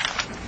to my books. If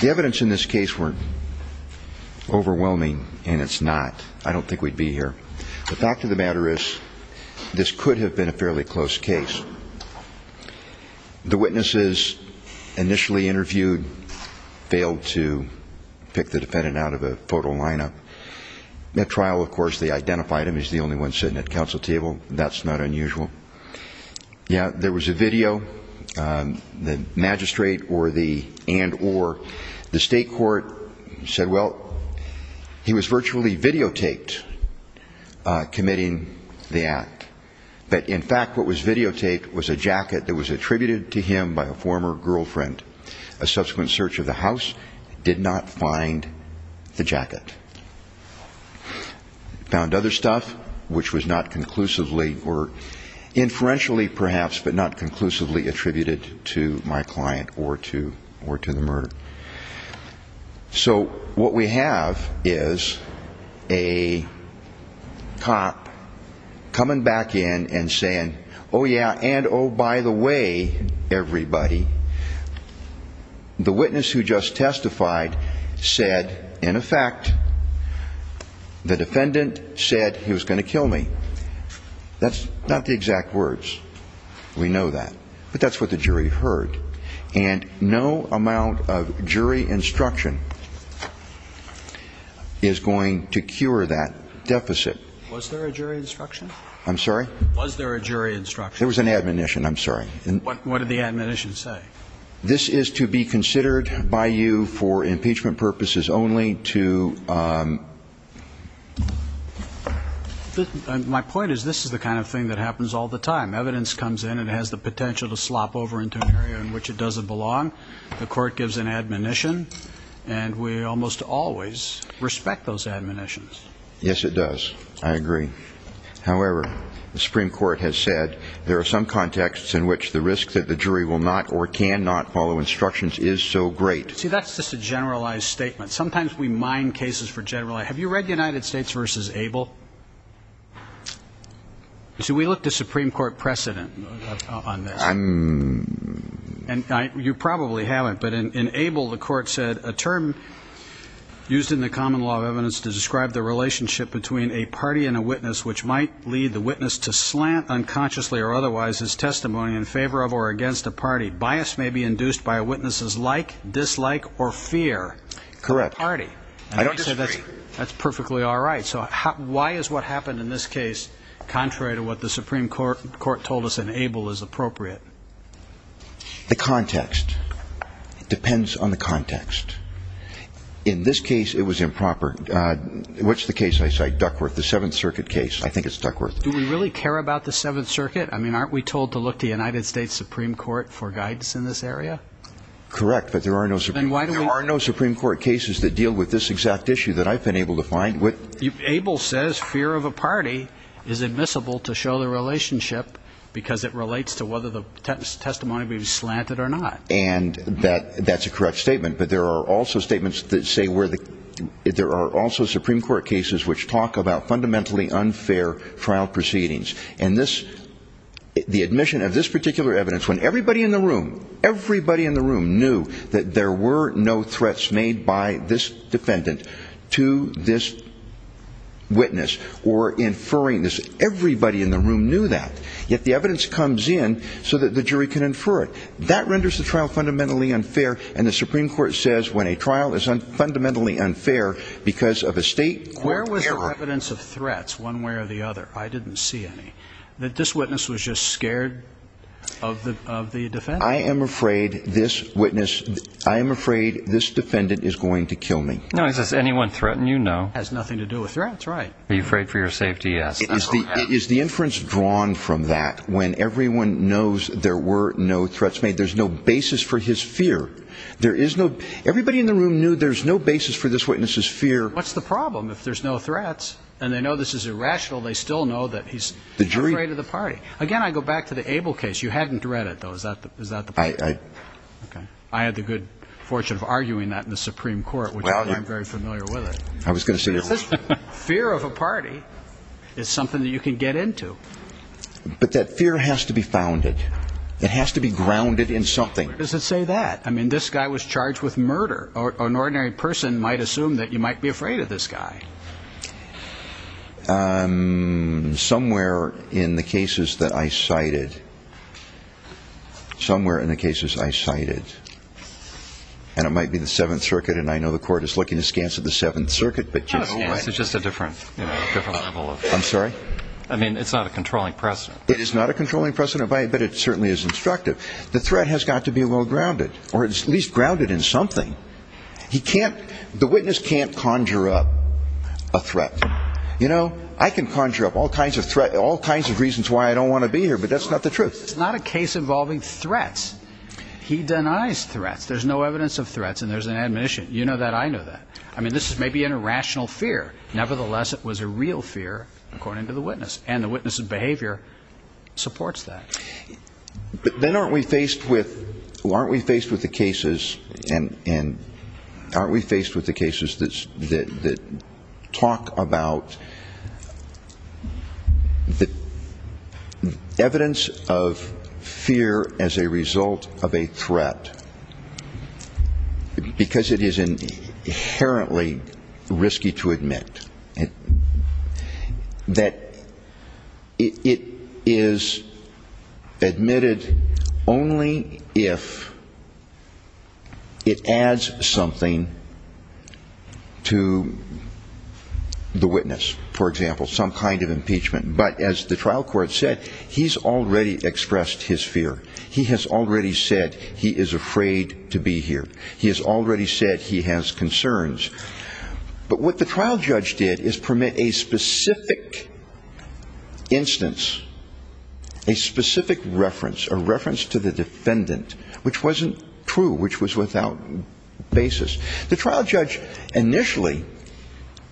the evidence in this case were overwhelming, and it's not, I don't think we'd be here. The fact of the matter is, this could have been a fairly close case. The witnesses initially interviewed failed to pick the defendant out of a photo lineup. At trial, of course, they identified him. He's the only one sitting at council table. That's not unusual. Yeah, there was a video. The magistrate and or the state court said, well, he was virtually videotaped committing the act. But in fact, what was videotaped was a jacket that was attributed to him by a former girlfriend. A subsequent search of the house did not find the jacket. Found other stuff, which was not conclusively or inferentially perhaps, but not conclusively attributed to my client or to the murder. So what we have is a cop coming back in and saying, oh, yeah, and oh, by the way, everybody, the witness who just testified said, in effect, the defendant said he was going to kill me. That's not the exact words. We know that. But that's what the jury heard. And no amount of jury instruction is going to cure that deficit. Was there a jury instruction? I'm sorry? Was there a jury instruction? There was an admonition. I'm sorry. What did the admonition say? This is to be considered by you for impeachment purposes only to... My point is, this is the kind of thing that happens all the time. Evidence comes in and has the potential to slop over into an area in which it doesn't belong. The court gives an admonition, and we almost always respect those admonitions. Yes, it does. I agree. However, the Supreme Court has said there are some contexts in which the risk that the jury will not or can not follow instructions is so great. See, that's just a generalized statement. Sometimes we mine cases for generalize. Have you read United States versus Abel? So we looked at Supreme Court precedent. You probably haven't, but in Abel, the court said, a term used in the common law of evidence to describe the relationship between a party and a witness which might lead the witness to slant unconsciously or otherwise as testimony in favor of or against a party. Bias may be induced by witnesses like, dislike, or fear. Correct. That's perfectly all right. So why is what the court told us in Abel is appropriate? The context. It depends on the context. In this case, it was improper. What's the case I cite? Duckworth. The Seventh Circuit case. I think it's Duckworth. Do we really care about the Seventh Circuit? I mean, aren't we told to look to United States Supreme Court for guidance in this area? Correct, but there are no Supreme Court cases that deal with this exact issue that I've been able to find. Abel says fear of a relationship because it relates to whether the testimony be slanted or not. And that's a correct statement, but there are also statements that say where the, there are also Supreme Court cases which talk about fundamentally unfair trial proceedings. And this, the admission of this particular evidence, when everybody in the room, everybody in the room knew that there were no threats made by this defendant to this witness or inferring this, everybody in the room knew that. Yet the evidence comes in so that the jury can infer it. That renders the trial fundamentally unfair. And the Supreme Court says when a trial is unfundamentally unfair because of a state... Where was the evidence of threats one way or the other? I didn't see any. That this witness was just scared of the defendant? I am afraid this witness, I am afraid this defendant is going to kill me. Now, is this anyone threatened? You know. Has nothing to do with threats, right? Are you afraid for your safety? Yes. Is the inference drawn from that when everyone knows there were no threats made? There's no basis for his fear. There is no, everybody in the room knew there's no basis for this witness's fear. What's the problem? If there's no threats and they know this is irrational, they still know that he's afraid of the party. Again, I go back to the Abel case. You hadn't read it though. Is that, is that the point? I had the good fortune of arguing that in the Supreme Court, which I'm very familiar with it. I was going to say that fear of the party is something that you can get into. But that fear has to be founded. It has to be grounded in something. Where does it say that? I mean, this guy was charged with murder. An ordinary person might assume that you might be afraid of this guy. Somewhere in the cases that I cited, somewhere in the cases I cited, and it might be the Seventh Circuit and I know the court is looking at this case of the Seventh Circuit. I'm sorry? I mean, it's not a controlling precedent. It is not a controlling precedent, but it certainly is instructive. The threat has got to be well grounded or at least grounded in something. He can't, the witness can't conjure up a threat. You know, I can conjure up all kinds of threats, all kinds of reasons why I don't want to be here, but that's not the truth. It's not a case involving threats. He denies threats. There's no evidence of I mean, this is maybe an irrational fear. Nevertheless, it was a real fear, according to the witness and the witness's behavior supports that. But then aren't we faced with, aren't we faced with the cases and aren't we faced with the cases that talk about the evidence of fear as a result of a threat because it is inherently risky to admit that it is admitted only if it adds something to the witness, for example, some kind of impeachment. But as the trial court said, he's already expressed his fear. He has already said he is afraid to be here. He has already said he has concerns. But what the trial judge did is permit a specific instance, a specific reference, a reference to the defendant, which wasn't true, which was without basis. The trial judge initially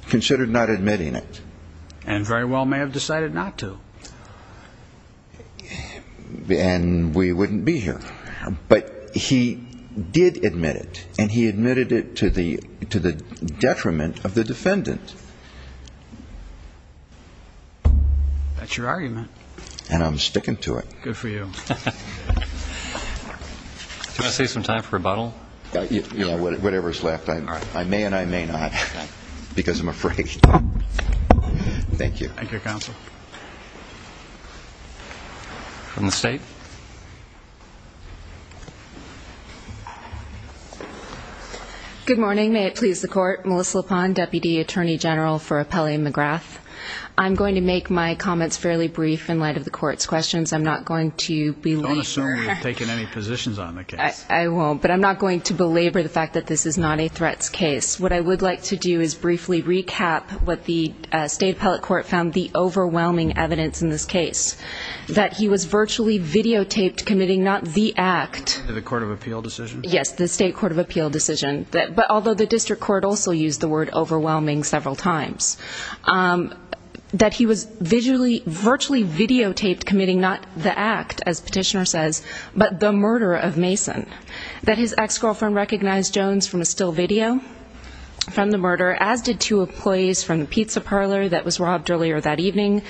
considered not admitting it. And very well may have decided not to. And we wouldn't be here, but he did admit it and he admitted it to the to the detriment of the defendant. That's your argument. And I'm sticking to it. Good for you. I say some time for rebuttal. Yeah, whatever's left. I may and I may not because I'm afraid. Thank you. Thank you, counsel. From the state. Good morning. May it please the court. Melissa Pond, Deputy Attorney General for Appellee McGrath. I'm going to make my comments fairly brief in light of the court's questions. I'm not going to be taking any positions on the case. I won't, but I'm not going to belabor the fact that this is not a threats case. What I would like to do is briefly recap what the state appellate court found the overwhelming evidence in this case, that he was virtually videotaped committing not the act of the court of appeal decision. Yes, the state court of appeal decision. But although the district court also used the word overwhelming several times, that he was visually virtually videotaped committing not the act, as petitioner says, but the murder of Mason, that his ex-girlfriend recognized Jones from a still video from the that evening,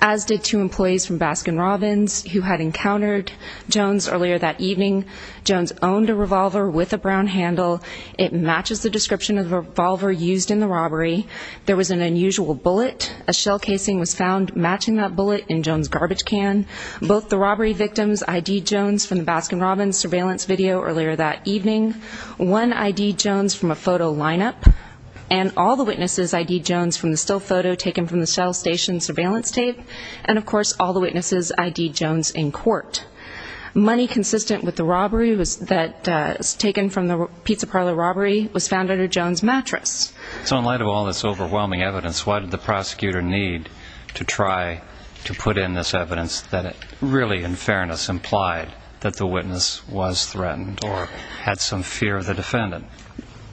as did two employees from Baskin Robbins who had encountered Jones earlier that evening. Jones owned a revolver with a brown handle. It matches the description of the revolver used in the robbery. There was an unusual bullet. A shell casing was found matching that bullet in Jones' garbage can. Both the robbery victims ID Jones from the Baskin Robbins surveillance video earlier that evening. One ID Jones from a photo lineup. And all the witnesses ID Jones from the still photo taken from the cell station surveillance tape. And of course all the witnesses ID Jones in court. Money consistent with the robbery that was taken from the pizza parlor robbery was found under Jones' mattress. So in light of all this overwhelming evidence, why did the prosecutor need to try to put in this evidence that really in fairness implied that the witness was threatened or had some fear of the defendant?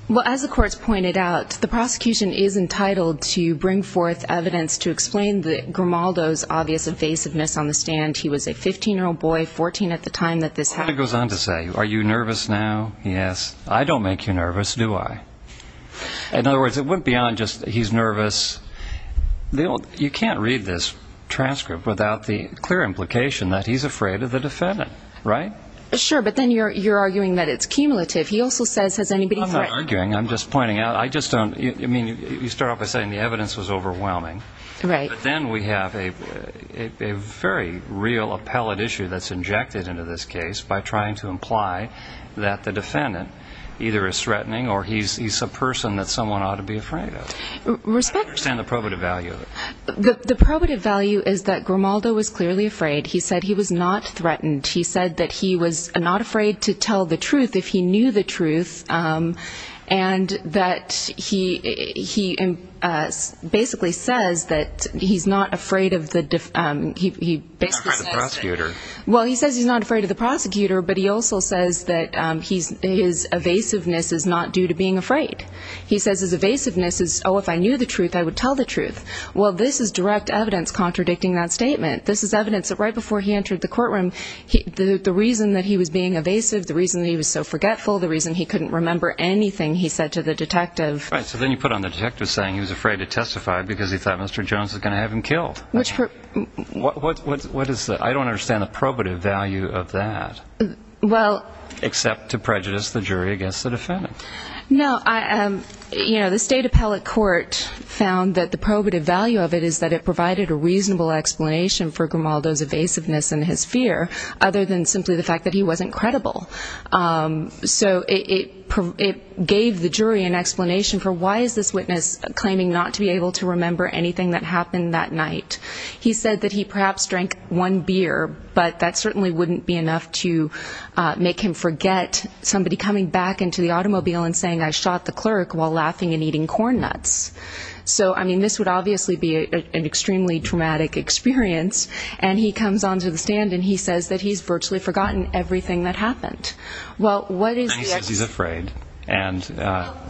Well, as the courts pointed out, the prosecution is entitled to bring forth evidence to explain the Grimaldo's obvious evasiveness on the stand. He was a 15-year-old boy, 14 at the time that this happened. It goes on to say, are you nervous now? Yes. I don't make you nervous, do I? In other words, it went beyond just he's nervous. You can't read this transcript without the clear implication that he's afraid of the defendant, right? Sure, but then you're arguing that it's cumulative. He also says, has anybody threatened? I'm not arguing. I'm just pointing out, I just don't, I mean, you start off by saying the evidence was overwhelming. Right. But then we have a very real appellate issue that's injected into this case by trying to imply that the defendant either is threatening or he's a person that someone ought to be afraid of. Respect. I don't understand the probative value of it. The probative value is that Grimaldo was clearly afraid. He said he was not afraid to tell the truth if he knew the truth, and that he basically says that he's not afraid of the, he basically says that. He's not afraid of the prosecutor. Well, he says he's not afraid of the prosecutor, but he also says that his evasiveness is not due to being afraid. He says his evasiveness is, oh, if I knew the truth, I would tell the truth. Well, this is direct evidence contradicting that statement. This is evidence that right before he entered the courtroom, the reason that he was being evasive, the reason that he was so forgetful, the reason he couldn't remember anything, he said to the detective. Right. So then you put on the detective saying he was afraid to testify because he thought Mr. Jones was going to have him killed. What is the, I don't understand the probative value of that. Well. Except to prejudice the jury against the defendant. No, I, you know, the state appellate court found that the probative value of it is that it provided a reasonable explanation for Grimaldo's evasiveness and his fear, other than simply the fact that he wasn't credible. So it gave the jury an explanation for why is this witness claiming not to be able to remember anything that happened that night. He said that he perhaps drank one beer, but that certainly wouldn't be enough to make him forget somebody coming back into the automobile and saying I shot the clerk while laughing and eating corn nuts. So, I mean, this would obviously be an extremely traumatic experience. And he comes on to the stand and he says that he's virtually forgotten everything that happened. And he says he's afraid. And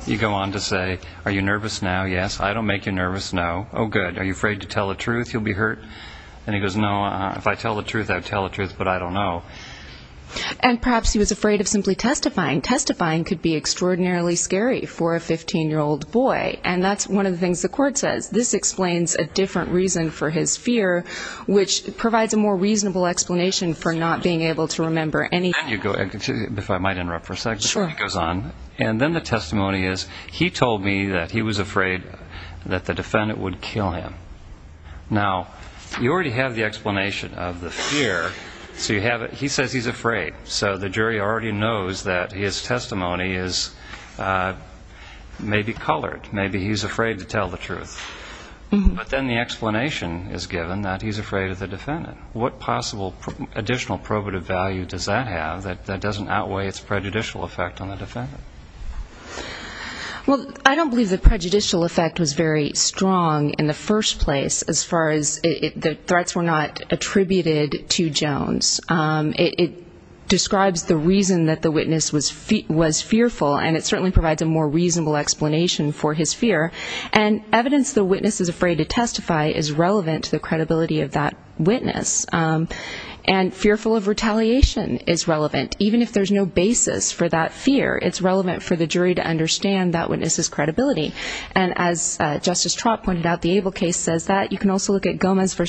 you go on to say, are you nervous now? Yes. I don't make you nervous. No. Oh, good. Are you afraid to tell the truth? You'll be hurt. And he goes, no, if I tell the truth, I would tell the truth, but I don't know. And perhaps he was afraid of simply testifying. Testifying could be extraordinarily scary for a 15-year-old boy. And that's one of the things the court says. This explains a different reason for his fear, which provides a more reasonable explanation for not being able to remember anything. If I might interrupt for a second. Sure. He goes on. And then the testimony is he told me that he was afraid that the defendant would kill him. Now, you already have the explanation of the fear. So you have it. He says he's afraid. So the jury already knows that his testimony is maybe colored. Maybe he's afraid to tell the truth. But then the explanation is given that he's afraid of the defendant. What possible additional probative value does that have that doesn't outweigh its prejudicial effect on the defendant? Well, I don't believe the prejudicial effect was very strong in the first place as far as the threats were not attributed to Jones. It describes the reason that the witness was fearful, and it certainly provides a more reasonable explanation for his fear. And evidence the witness is afraid to testify is relevant to the credibility of that witness. And fearful of retaliation is relevant. Even if there's no basis for that fear, it's relevant for the jury to understand that witness's credibility. And as Justice Trott pointed out, the Abel case says that. You can also look at Gomez v.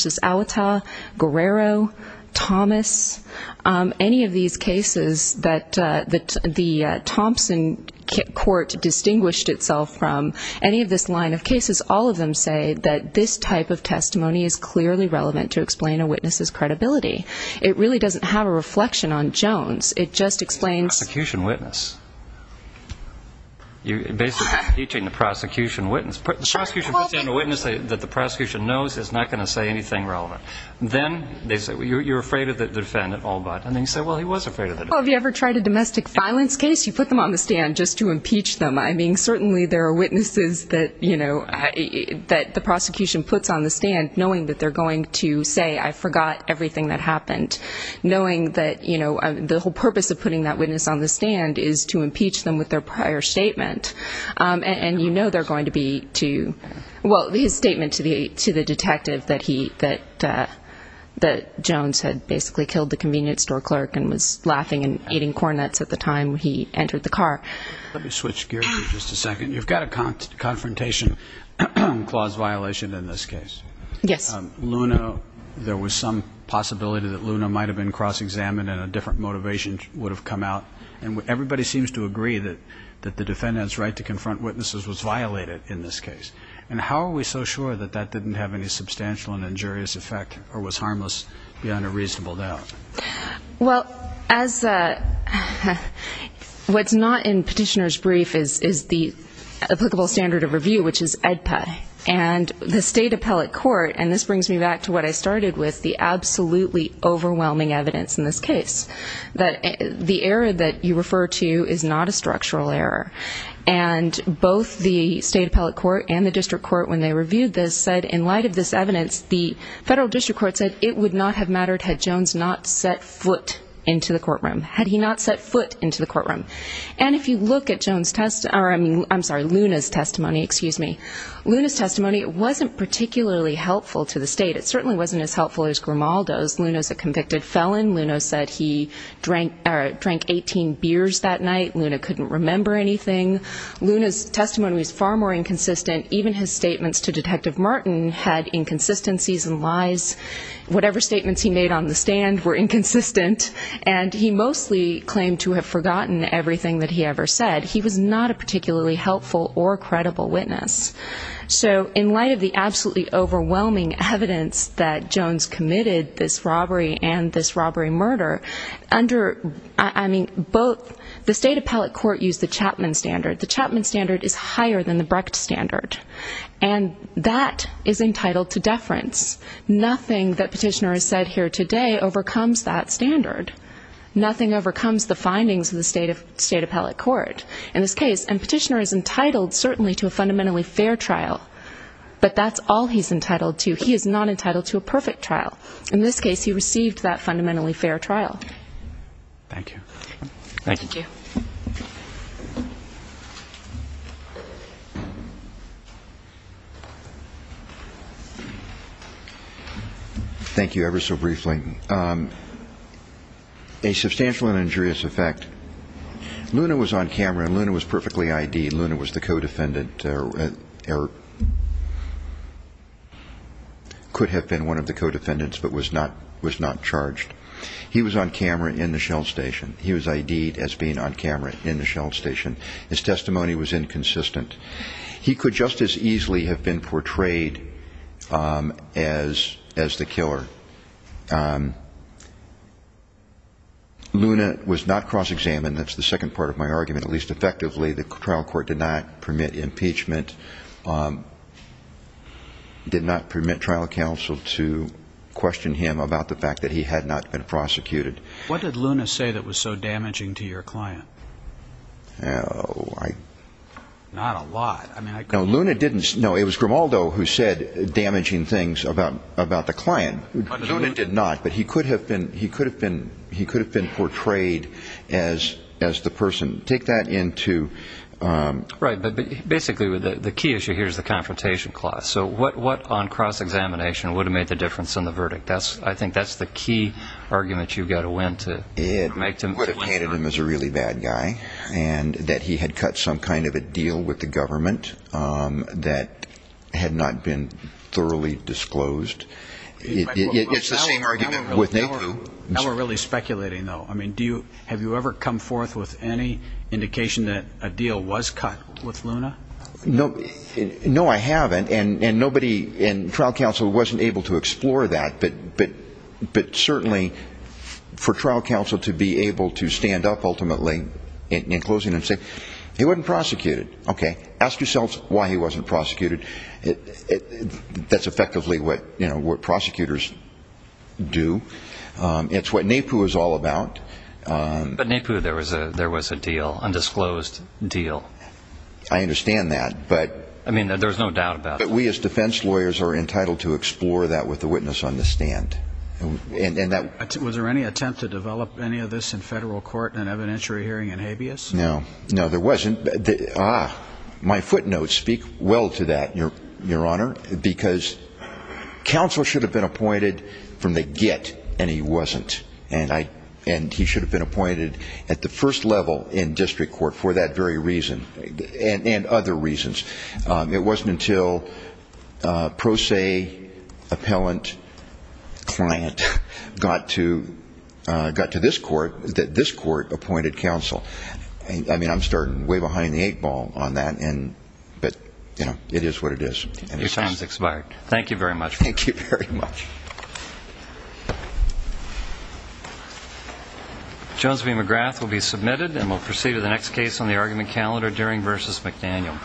Guerrero, Thomas, any of these cases that the Thompson court distinguished itself from, any of this line of cases, all of them say that this type of testimony is clearly relevant to explain a witness's credibility. It really doesn't have a reflection on Jones. It just explains. Prosecution witness. You're basically teaching the prosecution witness. The prosecution puts down a witness that the prosecution knows is not going to say anything relevant. Then they say, well, you're afraid of the defendant, all but. And then you say, well, he was afraid of the defendant. Well, have you ever tried a domestic violence case? You put them on the stand just to impeach them. I mean, certainly there are witnesses that, you know, that the prosecution puts on the stand knowing that they're going to say, I forgot everything that happened. Knowing that, you know, the whole purpose of putting that witness on the stand is to impeach them with their prior statement. And you know they're going to be to, well, his statement to the detective that Jones had basically killed the convenience store clerk and was laughing and eating corn nuts at the time he entered the car. Let me switch gears here just a second. You've got a confrontation clause violation in this case. Yes. Luna, there was some possibility that Luna might have been cross-examined and a different motivation would have come out. And everybody seems to agree that the defendant's right to confront witnesses was violated in this case. And how are we so sure that that didn't have any substantial and injurious effect or was harmless beyond a reasonable doubt? Well, what's not in Petitioner's brief is the applicable standard of review, which is AEDPA. And the state appellate court, and this brings me back to what I started with, the absolutely overwhelming evidence in this case. The error that you refer to is not a structural error. And both the state appellate court and the district court, when they reviewed this, said in light of this evidence, the federal district court said it would not have mattered had Jones not set foot into the courtroom. Had he not set foot into the courtroom. And if you look at Luna's testimony, Luna's testimony wasn't particularly helpful to the state. It certainly wasn't as helpful as Grimaldo's. Luna's a convicted felon. Luna said he drank 18 beers that night. Luna couldn't remember anything. Luna's testimony was far more inconsistent. Even his statements to Detective Martin had inconsistencies and lies. Whatever statements he made on the stand were inconsistent. And he mostly claimed to have forgotten everything that he ever said. He was not a particularly helpful or credible witness. So in light of the absolutely overwhelming evidence that Jones committed this the state appellate court used the Chapman standard. The Chapman standard is higher than the Brecht standard. And that is entitled to deference. Nothing that Petitioner has said here today overcomes that standard. Nothing overcomes the findings of the state appellate court. In this case, and Petitioner is entitled certainly to a fundamentally fair trial. But that's all he's entitled to. He is not entitled to a perfect trial. In this case, he received that fundamentally fair trial. Thank you. Thank you. Thank you. Ever so briefly. A substantial and injurious effect. Luna was on camera. Luna was perfectly ID'd. Luna was the co-defendant or could have been one of the co-defendants but was not charged. He was on camera in the shell station. He was ID'd as being on camera in the shell station. His testimony was inconsistent. He could just as easily have been portrayed as the killer. Luna was not cross-examined. That's the second part of my argument. At least effectively the trial court did not permit impeachment. Did not permit trial counsel to question him about the fact that he had not been prosecuted. What did Luna say that was so damaging to your client? Not a lot. No, Luna didn't. No, it was Grimaldo who said damaging things about the client. Luna did not. But he could have been portrayed as the person. Right, but basically the key issue here is the confrontation clause. So what on cross-examination would have made the difference in the verdict? I think that's the key argument you've got to win. It would have painted him as a really bad guy. And that he had cut some kind of a deal with the government that had not been thoroughly disclosed. It's the same argument with Napoo. Now we're really speculating though. I mean, have you ever come forth with any indication that a deal was cut with Luna? No, I haven't. And nobody in trial counsel wasn't able to explore that. But certainly for trial counsel to be able to stand up ultimately in closing and say he wasn't prosecuted. Okay, ask yourselves why he wasn't prosecuted. That's effectively what prosecutors do. It's what Napoo is all about. But Napoo, there was a deal, undisclosed deal. I understand that. I mean, there's no doubt about that. But we as defense lawyers are entitled to explore that with the witness on the stand. Was there any attempt to develop any of this in federal court in an evidentiary hearing in habeas? No, no there wasn't. Ah, my footnotes speak well to that, Your Honor. Because counsel should have been appointed from the get and he wasn't. And he should have been appointed at the first level in district court for that very reason and other reasons. It wasn't until pro se appellant client got to this court that this court appointed counsel. I mean, I'm starting way behind the eight ball on that. But, you know, it is what it is. Your time has expired. Thank you very much. Thank you very much. Jones v. McGrath will be submitted and we'll proceed to the next case on the argument calendar, Dering v. McDaniel.